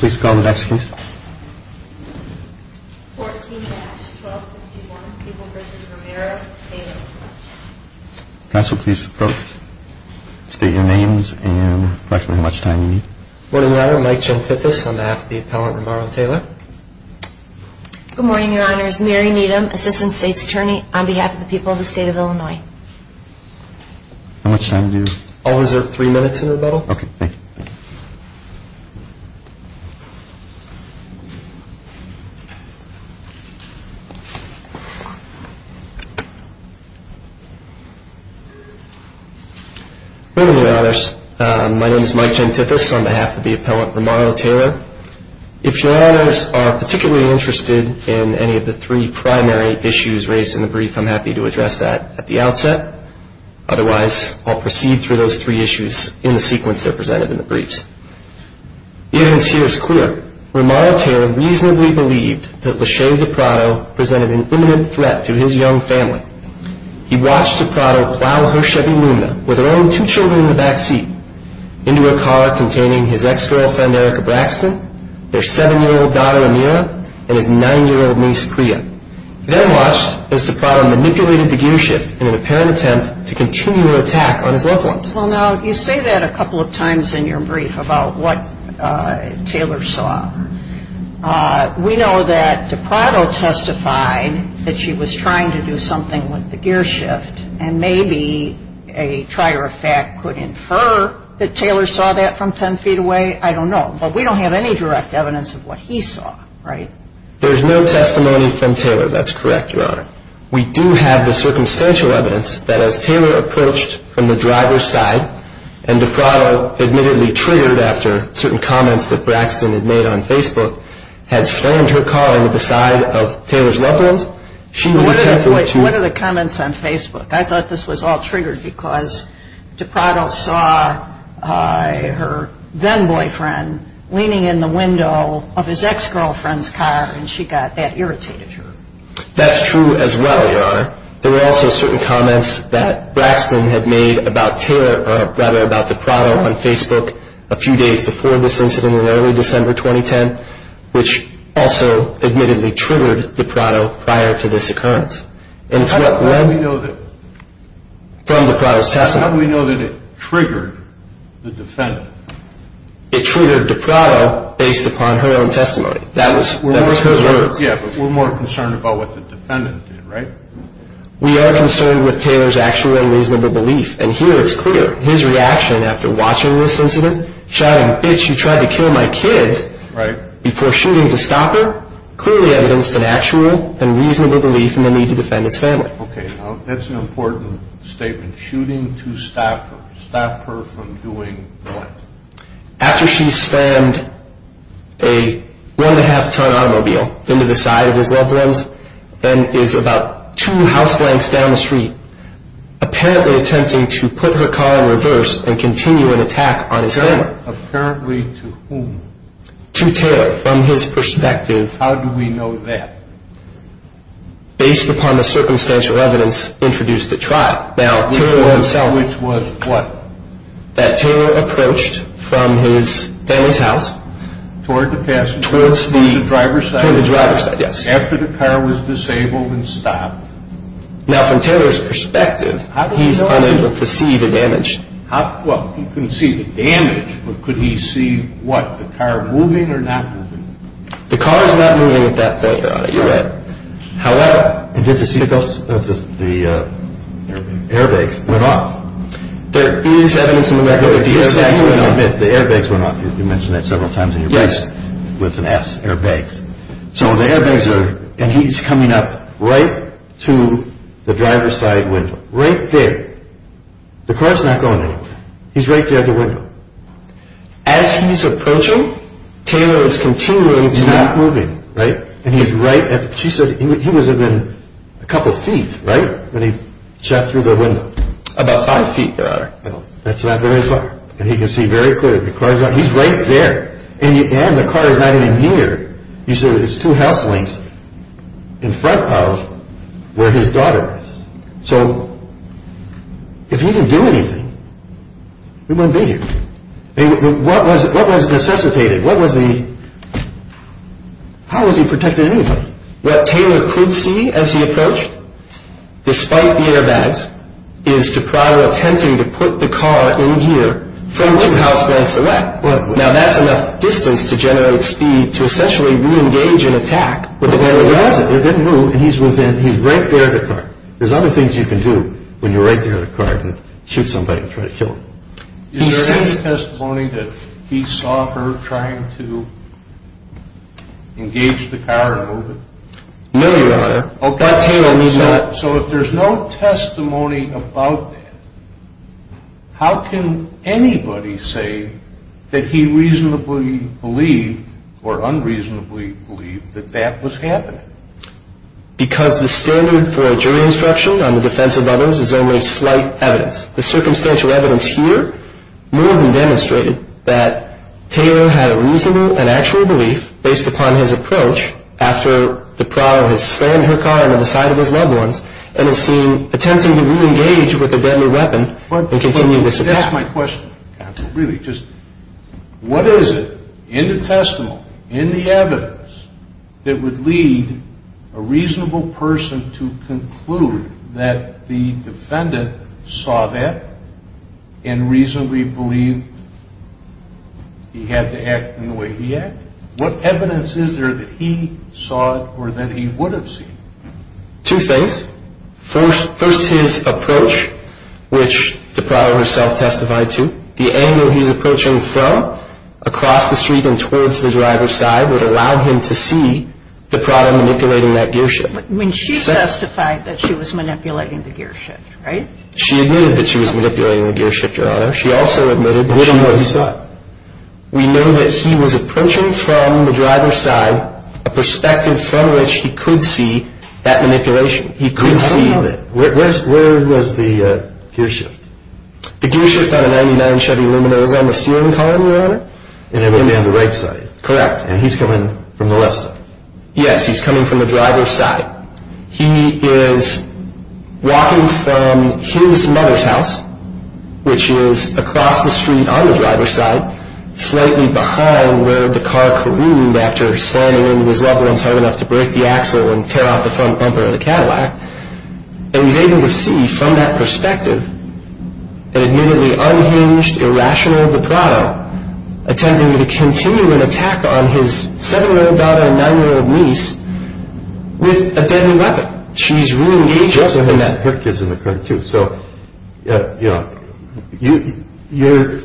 Please call the desk, please. 14-1251, People v. Romero, Taylor. Counsel, please approach, state your names, and reflect on how much time you need. Good morning, Your Honor. I'm Mike Gentithis, on behalf of the appellant Romero-Taylor. Good morning, Your Honor. It's Mary Needham, Assistant State's Attorney, on behalf of the people of the state of Illinois. How much time do you have? I'll reserve three minutes in rebuttal. Good morning, Your Honors. My name is Mike Gentithis, on behalf of the appellant Romero-Taylor. If Your Honors are particularly interested in any of the three primary issues raised in the brief, I'm happy to address that at the outset. Otherwise, I'll proceed through those three issues in the sequence they're presented in the briefs. The evidence here is clear. Romero-Taylor reasonably believed that LeShay DiPrato presented an imminent threat to his young family. He watched DiPrato plow her Chevy Lumina with her own two children in the backseat into a car containing his ex-girlfriend Erica Braxton, their seven-year-old daughter, Amira, and his nine-year-old niece, Priya. He then watched as DiPrato manipulated the gearshift in an apparent attempt to continue an attack on his loved ones. Well, now, you say that a couple of times in your brief about what Taylor saw. We know that DiPrato testified that she was trying to do something with the gearshift, and maybe a trier of fact could infer that Taylor saw that from 10 feet away. I don't know, but we don't have any direct evidence of what he saw, right? There's no testimony from Taylor. That's correct, Your Honor. We do have the circumstantial evidence that as Taylor approached from the driver's side and DiPrato, admittedly triggered after certain comments that Braxton had made on Facebook, had slammed her car into the side of Taylor's loved ones, she was attempting to- What are the comments on Facebook? I thought this was all triggered because DiPrato saw her then-boyfriend leaning in the window of his ex-girlfriend's car, and she got that irritated her. That's true as well, Your Honor. There were also certain comments that Braxton had made about Taylor, or rather about DiPrato on Facebook a few days before this incident in early December 2010, which also admittedly triggered DiPrato prior to this occurrence. And it's what- How do we know that- From DiPrato's testimony. How do we know that it triggered the defendant? It triggered DiPrato based upon her own testimony. That was her words. Yeah, but we're more concerned about what the defendant did, right? We are concerned with Taylor's actual and reasonable belief, and here it's clear. His reaction after watching this incident, shouting, Okay, now that's an important statement. Shooting to stop her. Stop her from doing what? After she slammed a one-and-a-half-ton automobile into the side of his loved ones, then is about two house lengths down the street, apparently attempting to put her car in reverse and continue an attack on his family. To whom? To Taylor, from his perspective. How do we know that? Based upon the circumstantial evidence introduced at trial. Now, Taylor himself- Which was what? That Taylor approached from his family's house- Toward the passenger- Towards the- To the driver's side. To the driver's side, yes. After the car was disabled and stopped. Now, from Taylor's perspective, he's unable to see the damage. Well, he can see the damage, but could he see, what, the car moving or not moving? The car is not moving at that point, Your Honor. You're right. However- And did you see the airbags went off? There is evidence in the record that the airbags went off. The airbags went off. You mentioned that several times in your briefs. Yes. With an S, airbags. So the airbags are- And he's coming up right to the driver's side window. Right there. The car's not going anywhere. He's right there at the window. As he's approaching, Taylor is continuing to- He's not moving, right? And he's right at- She said he was within a couple feet, right? When he shot through the window. About five feet, Your Honor. That's not very far. And he can see very clearly. The car's not- He's right there. And the car is not even near- You said there's two house links in front of where his daughter is. So if he didn't do anything, he wouldn't be here. What was necessitated? What was the- How was he protecting anyone? What Taylor could see as he approached, despite the airbags, is DiPrado attempting to put the car in gear from two house links away. Now that's enough distance to generate speed to essentially re-engage and attack. But there wasn't. They didn't move. And he's within- He's right there at the car. There's other things you can do when you're right there at the car and shoot somebody and try to kill them. Is there any testimony that he saw her trying to engage the car and move it? No, Your Honor. Okay. But Taylor was not- So if there's no testimony about that, how can anybody say that he reasonably believed or unreasonably believed that that was happening? Because the standard for jury instruction on the defense of others is only slight evidence. The circumstantial evidence here more than demonstrated that Taylor had a reasonable and actual belief, based upon his approach, after DiPrado has slammed her car into the side of his loved ones and has seen- attempting to re-engage with a deadly weapon and continue this attack. But that's my question, counsel, really. Just what is it in the testimony, in the evidence, that would lead a reasonable person to conclude that the defendant saw that and reasonably believed he had to act in the way he acted? What evidence is there that he saw it or that he would have seen? Two things. First, his approach, which DiPrado herself testified to. The angle he's approaching from, across the street and towards the driver's side, would allow him to see DiPrado manipulating that gearship. But when she testified that she was manipulating the gearship, right? She admitted that she was manipulating the gearship, Your Honor. She also admitted that she was- But she wouldn't know what he saw. We know that he was approaching from the driver's side, a perspective from which he could see that manipulation. He could see- Where was the gearshift? The gearshift on a 99 Chevy Luminosa on the steering column, Your Honor. And it would be on the right side. Correct. And he's coming from the left side. Yes, he's coming from the driver's side. He is walking from his mother's house, which is across the street on the driver's side, slightly behind where the car careened after slamming into his loved ones hard enough to break the axle and tear off the front bumper of the Cadillac. And he's able to see from that perspective an admittedly unhinged, irrational DiPrado attempting to continue an attack on his 7-year-old daughter and 9-year-old niece with a deadly weapon. She's re-engaged in that. She also had her kids in the car too. So, you know, to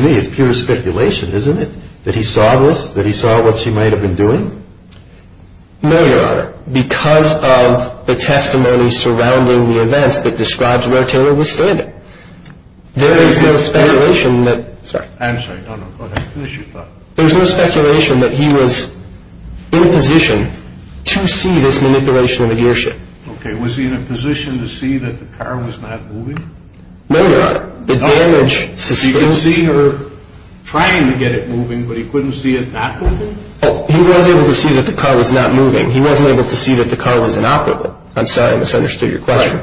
me it's pure speculation, isn't it? That he saw this? That he saw what she might have been doing? No, Your Honor. Because of the testimony surrounding the events that describes where Taylor was standing. There is no speculation that- I'm sorry. No, no, go ahead. Finish your thought. There's no speculation that he was in a position to see this manipulation of the gear shift. Okay. Was he in a position to see that the car was not moving? No, Your Honor. The damage sustained- He could see her trying to get it moving, but he couldn't see it not moving? He was able to see that the car was not moving. He wasn't able to see that the car was inoperable. I'm sorry, I misunderstood your question.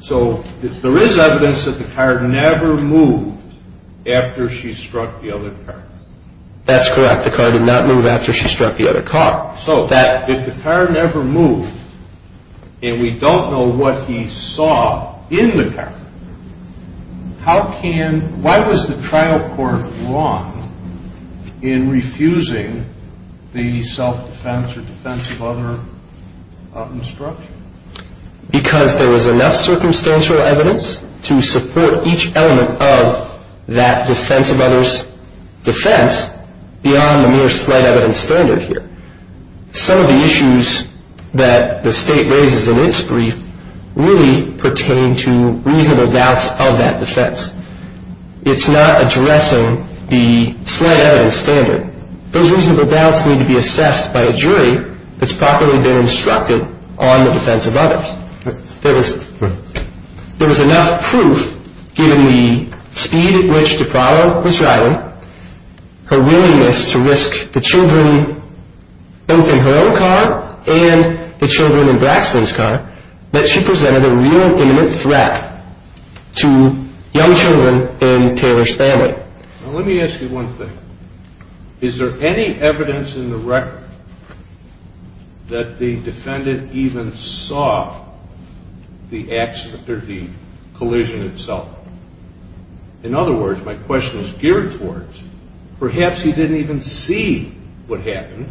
So there is evidence that the car never moved after she struck the other car. That's correct. The car did not move after she struck the other car. So if the car never moved and we don't know what he saw in the car, why was the trial court wrong in refusing the self-defense or defense of other obstruction? Because there was enough circumstantial evidence to support each element of that defense of other's defense beyond the mere slight evidence standard here. Some of the issues that the State raises in its brief really pertain to reasonable doubts of that defense. It's not addressing the slight evidence standard. Those reasonable doubts need to be assessed by a jury that's properly been instructed on the defense of others. There was enough proof, given the speed at which DiPrallo was driving, her willingness to risk the children both in her own car and the children in Braxton's car, that she presented a real imminent threat to young children in Taylor's family. Now, let me ask you one thing. Is there any evidence in the record that the defendant even saw the accident or the collision itself? In other words, my question is geared towards perhaps he didn't even see what happened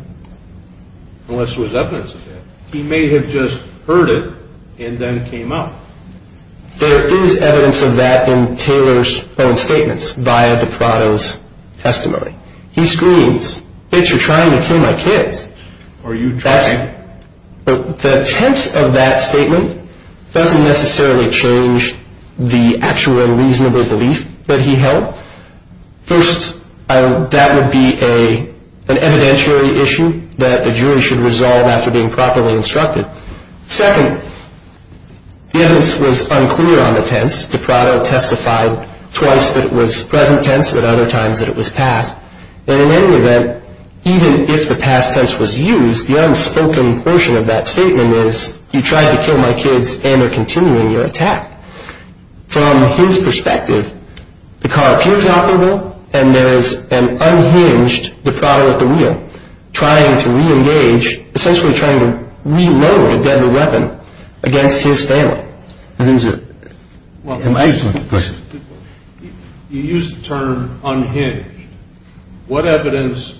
unless there was evidence of that. He may have just heard it and then came out. There is evidence of that in Taylor's own statements via DiPrallo's testimony. He screams, bitch, you're trying to kill my kids. The tense of that statement doesn't necessarily change the actual reasonable belief that he held. First, that would be an evidentiary issue that a jury should resolve after being properly instructed. Second, the evidence was unclear on the tense. DiPrallo testified twice that it was present tense and other times that it was past. And in any event, even if the past tense was used, the unspoken portion of that statement is, you tried to kill my kids and they're continuing your attack. From his perspective, the car appears operable and there is an unhinged DiPrallo at the wheel, trying to re-engage, essentially trying to reload a deadly weapon against his family. You used the term unhinged. What evidence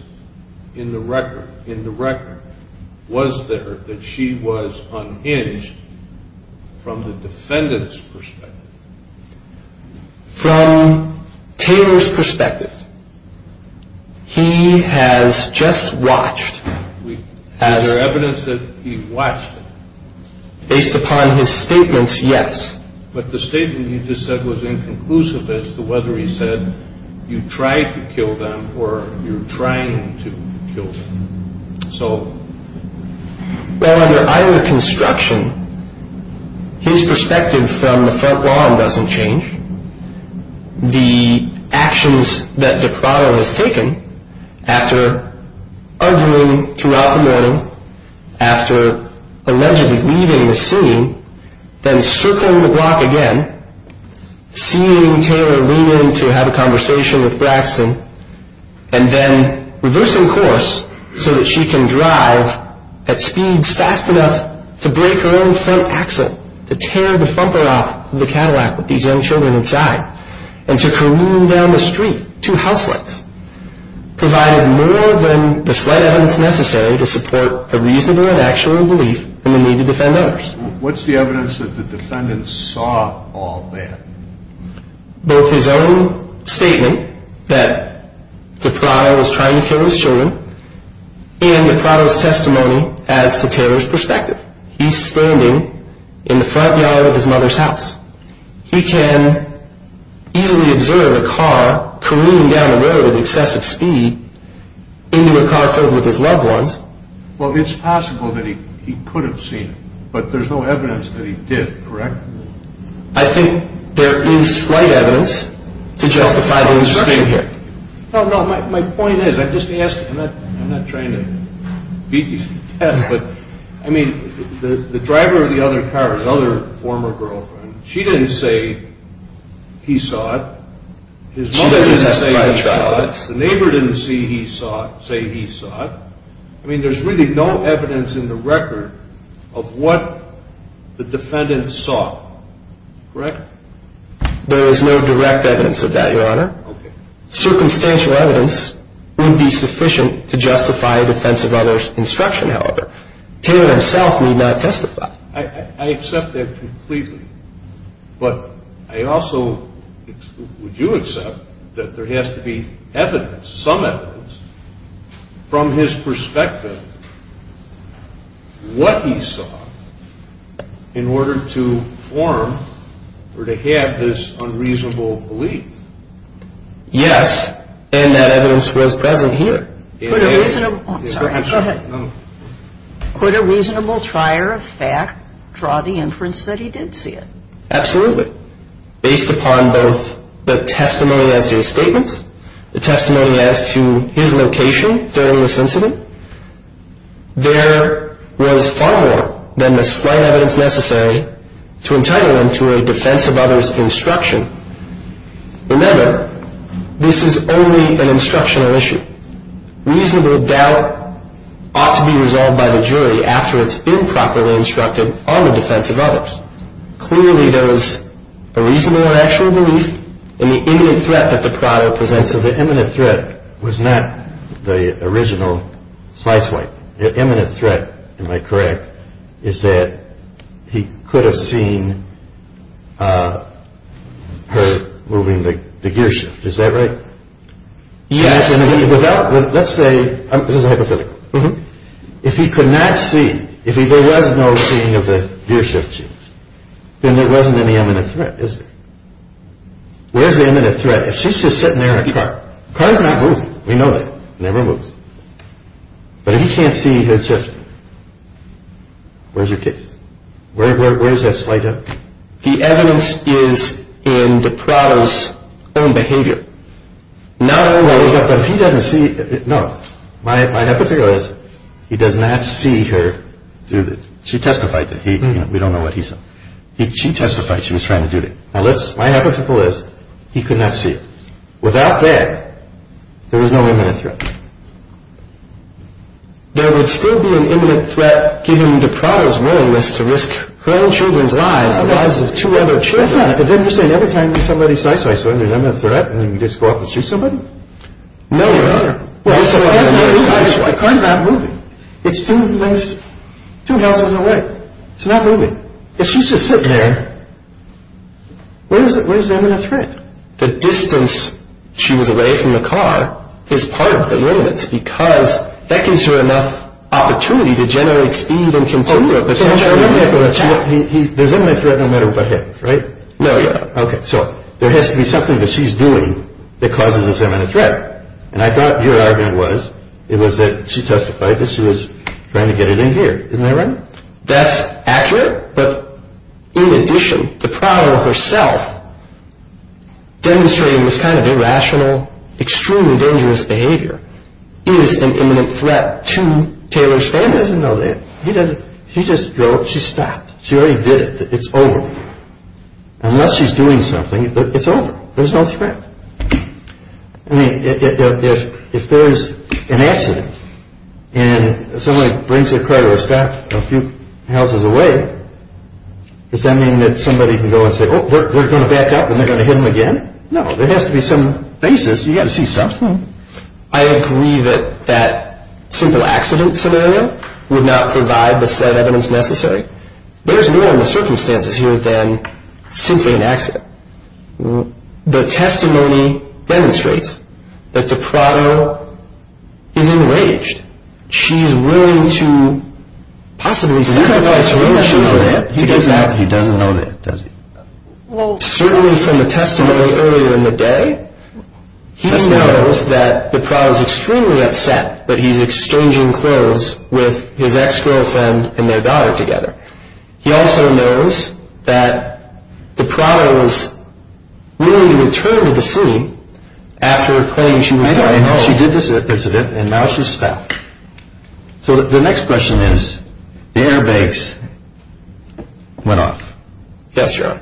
in the record was there that she was unhinged from the defendant's perspective? From Taylor's perspective, he has just watched. Is there evidence that he watched? Based upon his statements, yes. But the statement you just said was inconclusive as to whether he said, you tried to kill them or you're trying to kill them. Well, under either construction, his perspective from the front lawn doesn't change. The actions that DiPrallo has taken after arguing throughout the morning, after allegedly leaving the scene, then circling the block again, seeing Taylor lean in to have a conversation with Braxton, and then reversing course so that she can drive at speeds fast enough to break her own front axle, to tear the bumper off of the Cadillac with these young children inside, and to careen down the street, two house lights, provided more than the slight evidence necessary to support a reasonable and actual belief in the need to defend others. What's the evidence that the defendant saw all that? Both his own statement that DiPrallo was trying to kill his children, and DiPrallo's testimony as to Taylor's perspective. He's standing in the front yard of his mother's house. He can easily observe a car careening down the road at excessive speed into a car filled with his loved ones. Well, it's possible that he could have seen it, but there's no evidence that he did, correct? I think there is slight evidence to justify the insertion here. No, no, my point is, I'm just asking, I'm not trying to beat you to death, but, I mean, the driver of the other car, his other former girlfriend, she didn't say he saw it. She doesn't testify in charge of all this. The neighbor didn't say he saw it. I mean, there's really no evidence in the record of what the defendant saw, correct? There is no direct evidence of that, Your Honor. Okay. Circumstantial evidence wouldn't be sufficient to justify a defense of others' instruction, however. Taylor himself need not testify. I accept that completely, but I also would you accept that there has to be evidence, some evidence, from his perspective, what he saw in order to form or to have this unreasonable belief? Yes, and that evidence was present here. Could a reasonable, oh, I'm sorry, go ahead. Could a reasonable trier of fact draw the inference that he did see it? Absolutely. Based upon both the testimony as to his statements, the testimony as to his location during this incident, there was far more than the slight evidence necessary to entitle him to a defense of others' instruction. Remember, this is only an instructional issue. Reasonable doubt ought to be resolved by the jury after it's been properly instructed on the defense of others. Clearly, there was a reasonable and actual belief in the imminent threat that the product presented. So the imminent threat was not the original sly swipe. The imminent threat, am I correct, is that he could have seen her moving the gear shift. Is that right? Yes. Let's say, this is a hypothetical. If he could not see, if there was no seeing of the gear shift, then there wasn't any imminent threat, is there? Where's the imminent threat if she's just sitting there in a car? The car is not moving. We know that. It never moves. But if he can't see her shifting, where's your case? Where's that slight evidence? The evidence is in the product's own behavior. No. But if he doesn't see, no. My hypothetical is he does not see her do the, she testified that he, we don't know what he saw. She testified she was trying to do the, my hypothetical is he could not see. Without that, there was no imminent threat. There would still be an imminent threat given the product's willingness to risk her own children's lives, the lives of two other children. But then you're saying every time somebody side-swipes one, there's an imminent threat, and then you just go up and shoot somebody? No, Your Honor. The car's not moving. It's two houses away. It's not moving. If she's just sitting there, where's the imminent threat? The distance she was away from the car is part of the evidence because that gives her enough opportunity to generate speed and control for a potential attack. There's an imminent threat no matter what happens, right? No, Your Honor. Okay, so there has to be something that she's doing that causes this imminent threat. And I thought your argument was it was that she testified that she was trying to get it in gear. Isn't that right? That's accurate, but in addition, the product herself demonstrating this kind of irrational, extremely dangerous behavior is an imminent threat to Taylor's family. He doesn't know that. He doesn't. She just drove up. She stopped. She already did it. It's over. Unless she's doing something, it's over. There's no threat. I mean, if there's an accident and somebody brings their car to a stop a few houses away, does that mean that somebody can go and say, oh, we're going to back up and they're going to hit him again? No. There has to be some basis. You've got to see something. I agree that that simple accident scenario would not provide the set evidence necessary. There's more in the circumstances here than simply an accident. The testimony demonstrates that DiPrato is enraged. She's willing to possibly sacrifice her own children to get that. He doesn't know that, does he? Well, certainly from the testimony earlier in the day, he knows that DiPrato is extremely upset that he's exchanging clothes with his ex-girlfriend and their daughter together. He also knows that DiPrato is willing to return to the scene after claiming she was going home. I know. She did this accident, and now she's stopped. So the next question is, the airbags went off. Yes, John.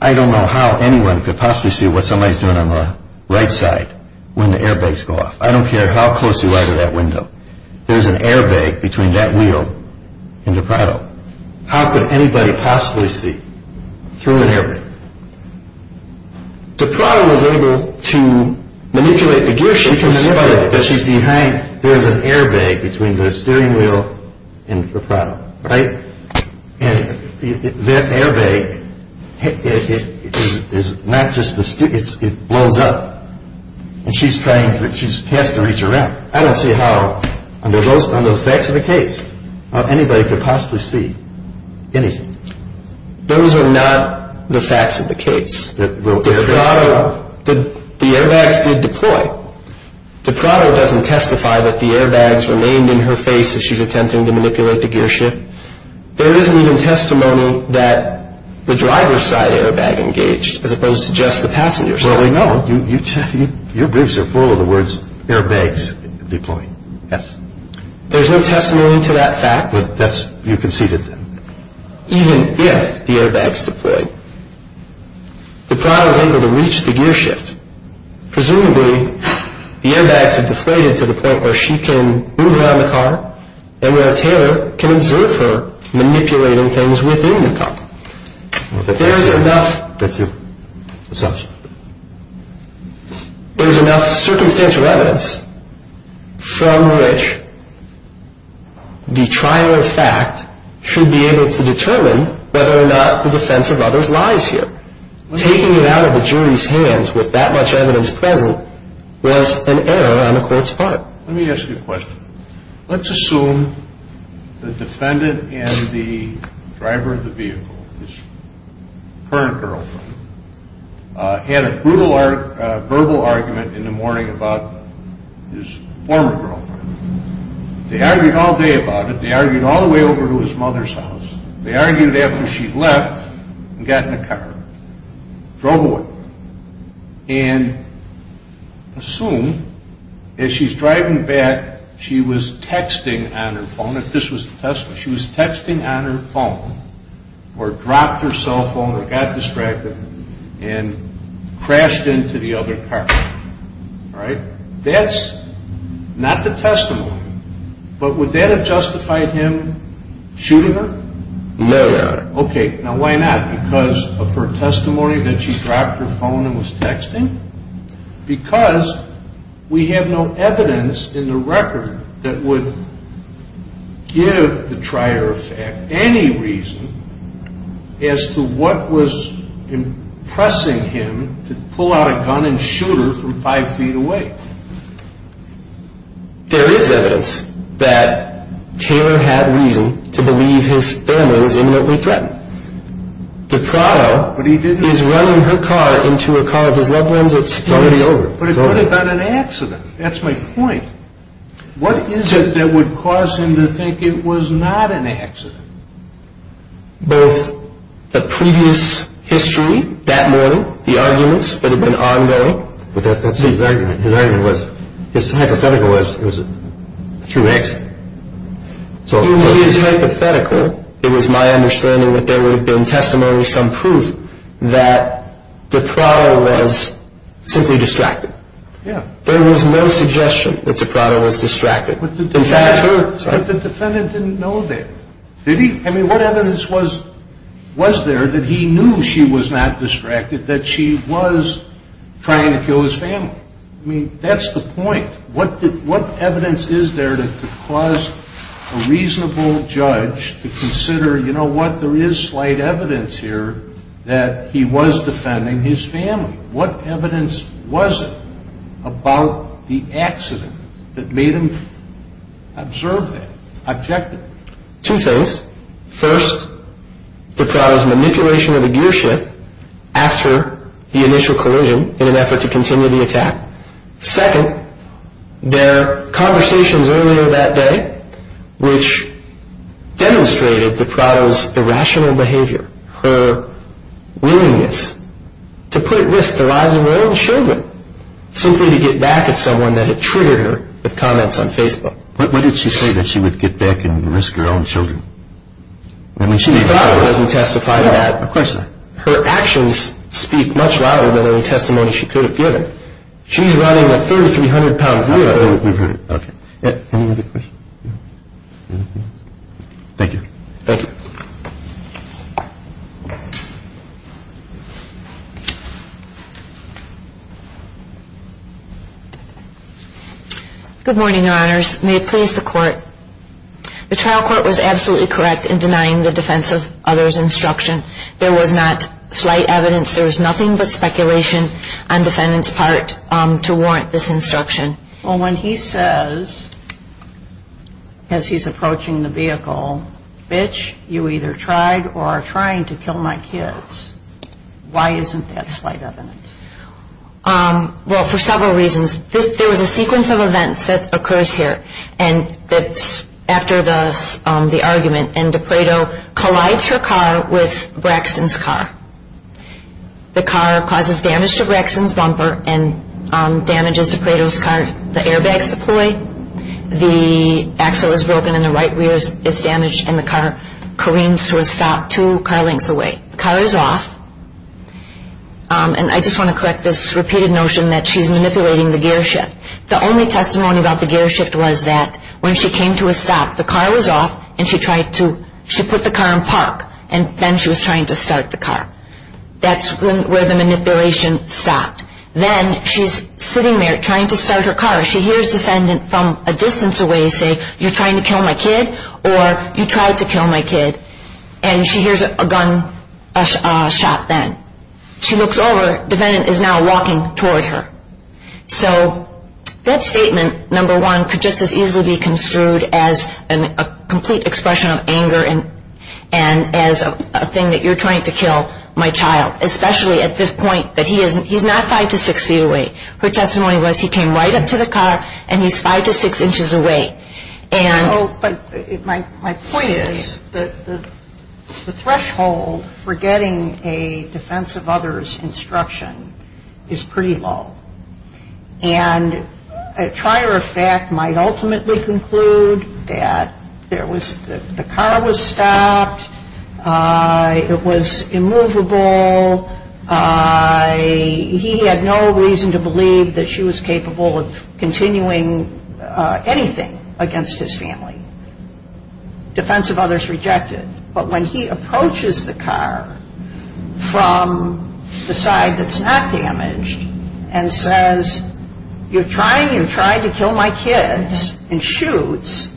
I don't know how anyone could possibly see what somebody's doing on the right side when the airbags go off. I don't care how close you are to that window. There's an airbag between that wheel and DiPrato. How could anybody possibly see through an airbag? DiPrato was able to manipulate the gear shift. She can manipulate it, but she's behind it. There's an airbag between the steering wheel and DiPrato, right? And that airbag, it blows up, and she's trying to reach around. I don't see how, under the facts of the case, anybody could possibly see anything. Those are not the facts of the case. DiPrato, the airbags did deploy. DiPrato doesn't testify that the airbags remained in her face as she's attempting to manipulate the gear shift. There isn't even testimony that the driver's side airbag engaged as opposed to just the passenger's side. Well, we know. Your briefs are full of the words, airbags deployed. There's no testimony to that fact. You conceded that. Even if the airbags deployed, DiPrato is able to reach the gear shift. Presumably, the airbags have deflated to the point where she can move around the car and where Taylor can observe her manipulating things within the car. That's your assumption. There's enough circumstantial evidence from which the trial of fact should be able to determine whether or not the defense of others lies here. Taking it out of the jury's hands with that much evidence present was an error on the court's part. Let me ask you a question. Let's assume the defendant and the driver of the vehicle, his current girlfriend, had a brutal verbal argument in the morning about his former girlfriend. They argued all day about it. They argued all the way over to his mother's house. They argued after she left and got in the car, drove away, and assume, as she's driving back, she was texting on her phone, if this was the testimony, she was texting on her phone or dropped her cell phone or got distracted and crashed into the other car. That's not the testimony. But would that have justified him shooting her? No, Your Honor. Okay. Now, why not? Because of her testimony that she dropped her phone and was texting? Because we have no evidence in the record that would give the trier of fact any reason as to what was impressing him to pull out a gun and shoot her from five feet away. There is evidence that Taylor had reason to believe his family was imminently threatened. De Prado is running her car into a car of his loved ones. It's over. But it could have been an accident. That's my point. What is it that would cause him to think it was not an accident? Both the previous history that morning, the arguments that have been ongoing. But his argument was, his hypothetical was, it was a true accident. Through his hypothetical, it was my understanding that there would have been testimony, some proof that De Prado was simply distracted. Yeah. There was no suggestion that De Prado was distracted. But the defendant didn't know that. Did he? I mean, what evidence was there that he knew she was not distracted, that she was trying to kill his family? I mean, that's the point. What evidence is there to cause a reasonable judge to consider, you know what, there is slight evidence here that he was defending his family. What evidence was it about the accident that made him observe that objectively? Two things. First, De Prado's manipulation of the gear shift after the initial collision in an effort to continue the attack. Second, their conversations earlier that day, which demonstrated De Prado's irrational behavior, her willingness to put at risk the lives of her own children, simply to get back at someone that had triggered her with comments on Facebook. What did she say that she would get back and risk her own children? De Prado doesn't testify to that. Of course not. Her actions speak much louder than any testimony she could have given. She's running a 3,300-pound gear. Okay. Any other questions? Thank you. Thank you. Good morning, Your Honors. May it please the Court. The trial court was absolutely correct in denying the defense of others' instruction. There was not slight evidence. There was nothing but speculation on defendant's part to warrant this instruction. Well, when he says, as he's approaching the vehicle, you either tried or are trying to kill my kids. Why isn't that slight evidence? Well, for several reasons. There was a sequence of events that occurs here after the argument, and De Prado collides her car with Braxton's car. The car causes damage to Braxton's bumper and damages De Prado's car. The airbags deploy. The axle is broken and the right rear is damaged, and the car careens to a stop two car lengths away. The car is off. And I just want to correct this repeated notion that she's manipulating the gearshift. The only testimony about the gearshift was that when she came to a stop, the car was off and she tried to put the car in park, and then she was trying to start the car. That's where the manipulation stopped. Then she's sitting there trying to start her car. She hears a defendant from a distance away say, you're trying to kill my kid or you tried to kill my kid, and she hears a gun shot then. She looks over. The defendant is now walking toward her. So that statement, number one, could just as easily be construed as a complete expression of anger and as a thing that you're trying to kill my child, especially at this point that he's not five to six feet away. Her testimony was he came right up to the car, and he's five to six inches away. My point is the threshold for getting a defense of others instruction is pretty low. And a trier of fact might ultimately conclude that the car was stopped, it was immovable, he had no reason to believe that she was capable of continuing anything against his family. Defense of others rejected. But when he approaches the car from the side that's not damaged and says, you're trying to kill my kids and shoots,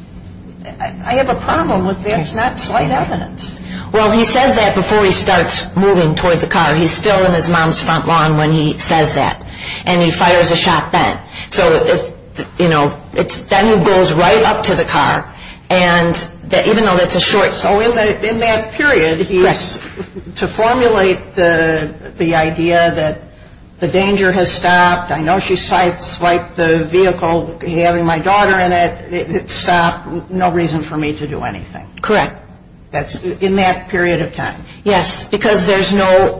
I have a problem with that's not slight evidence. Well, he says that before he starts moving toward the car. He's still in his mom's front lawn when he says that. And he fires a shot then. So, you know, it's then he goes right up to the car, and even though that's a short time. So in that period, he's to formulate the idea that the danger has stopped. I know she sights wiped the vehicle having my daughter in it. It stopped. No reason for me to do anything. Correct. In that period of time. Yes, because there's no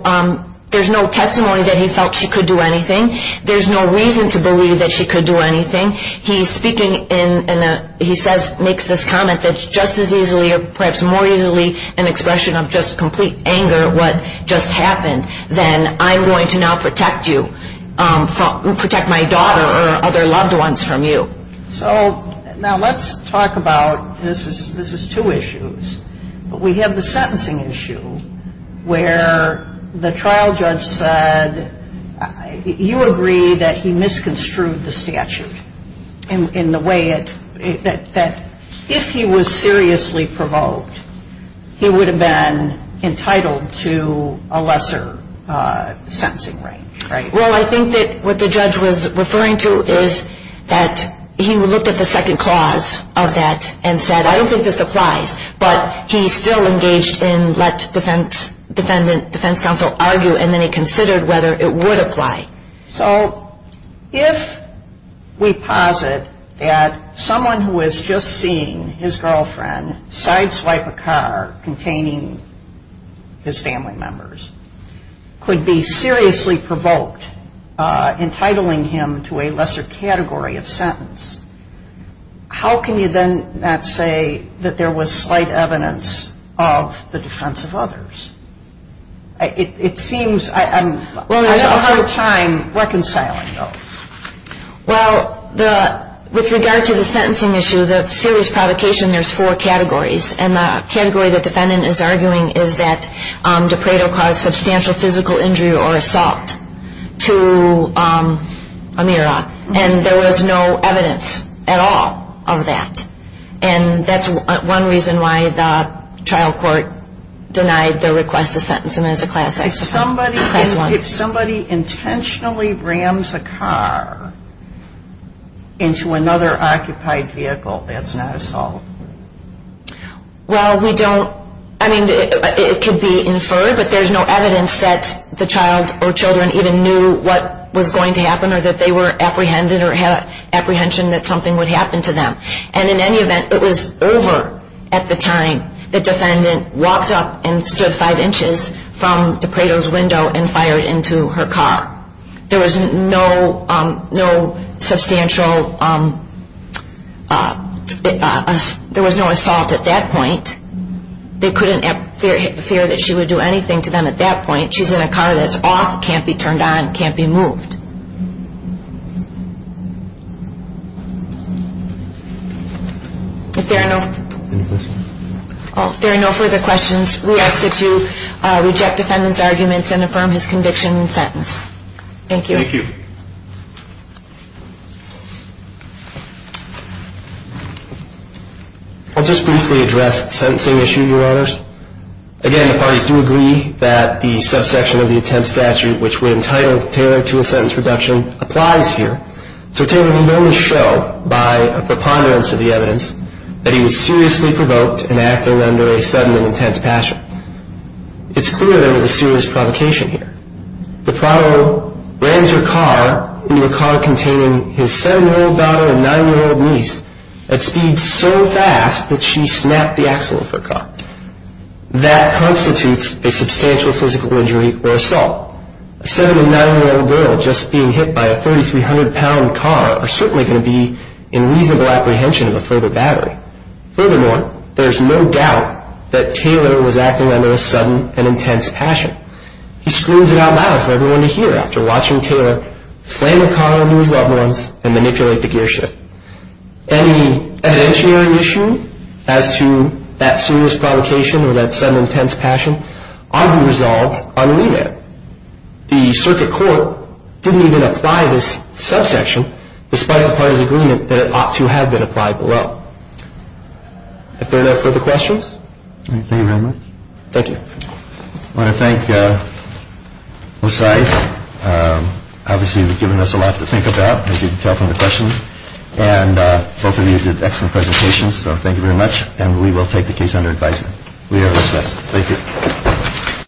testimony that he felt she could do anything. There's no reason to believe that she could do anything. He's speaking in a, he says, makes this comment that just as easily or perhaps more easily an expression of just complete anger at what just happened, then I'm going to now protect you, protect my daughter or other loved ones from you. So now let's talk about, this is two issues, but we have the sentencing issue where the trial judge said, you agree that he misconstrued the statute in the way that if he was seriously provoked, he would have been entitled to a lesser sentencing range, right? Well, I think that what the judge was referring to is that he looked at the second clause of that and said, I don't think this applies, but he still engaged in let defense counsel argue and then he considered whether it would apply. So if we posit that someone who is just seeing his girlfriend sideswipe a car containing his family members could be seriously provoked, entitling him to a lesser category of sentence, how can you then not say that there was slight evidence of the defense of others? It seems, I'm having a hard time reconciling those. Well, with regard to the sentencing issue, the serious provocation, there's four categories, and the category the defendant is arguing is that DePredo caused substantial physical injury or assault to Amira, and there was no evidence at all of that. And that's one reason why the trial court denied the request to sentence him as a class X. If somebody intentionally rams a car into another occupied vehicle, that's not assault? Well, we don't, I mean, it could be inferred, but there's no evidence that the child or children even knew what was going to happen or that they were apprehended or had apprehension that something would happen to them. And in any event, it was over at the time the defendant walked up and stood five inches from DePredo's window and fired into her car. There was no substantial, there was no assault at that point. They couldn't fear that she would do anything to them at that point. She's in a car that's off, can't be turned on, can't be moved. If there are no further questions, we ask that you reject defendant's arguments and affirm his conviction and sentence. Thank you. Thank you. I'll just briefly address the sentencing issue, Your Honors. Again, the parties do agree that the subsection of the intent statute, which would entitle Taylor to a sentence reduction, applies here. So, Taylor, we've only shown by a preponderance of the evidence that he was seriously provoked and acting under a sudden and intense passion. It's clear there was a serious provocation here. DePredo rams her car into a car containing his seven-year-old daughter and nine-year-old niece at speeds so fast that she snapped the axle of her car. That constitutes a substantial physical injury or assault. A seven- and nine-year-old girl just being hit by a 3,300-pound car are certainly going to be in reasonable apprehension of a further battery. Furthermore, there's no doubt that Taylor was acting under a sudden and intense passion. He screams it out loud for everyone to hear after watching Taylor slam a car into his loved ones and manipulate the gearshift. Any evidentiary issue as to that serious provocation or that sudden and intense passion ought to be resolved on remand. The circuit court didn't even apply this subsection, despite the parties' agreement that it ought to have been applied below. Are there no further questions? Thank you very much. Thank you. I want to thank Osife. Obviously, you've given us a lot to think about, as you can tell from the questions. And both of you did excellent presentations, so thank you very much. And we will take the case under advisement. We are dismissed. Thank you.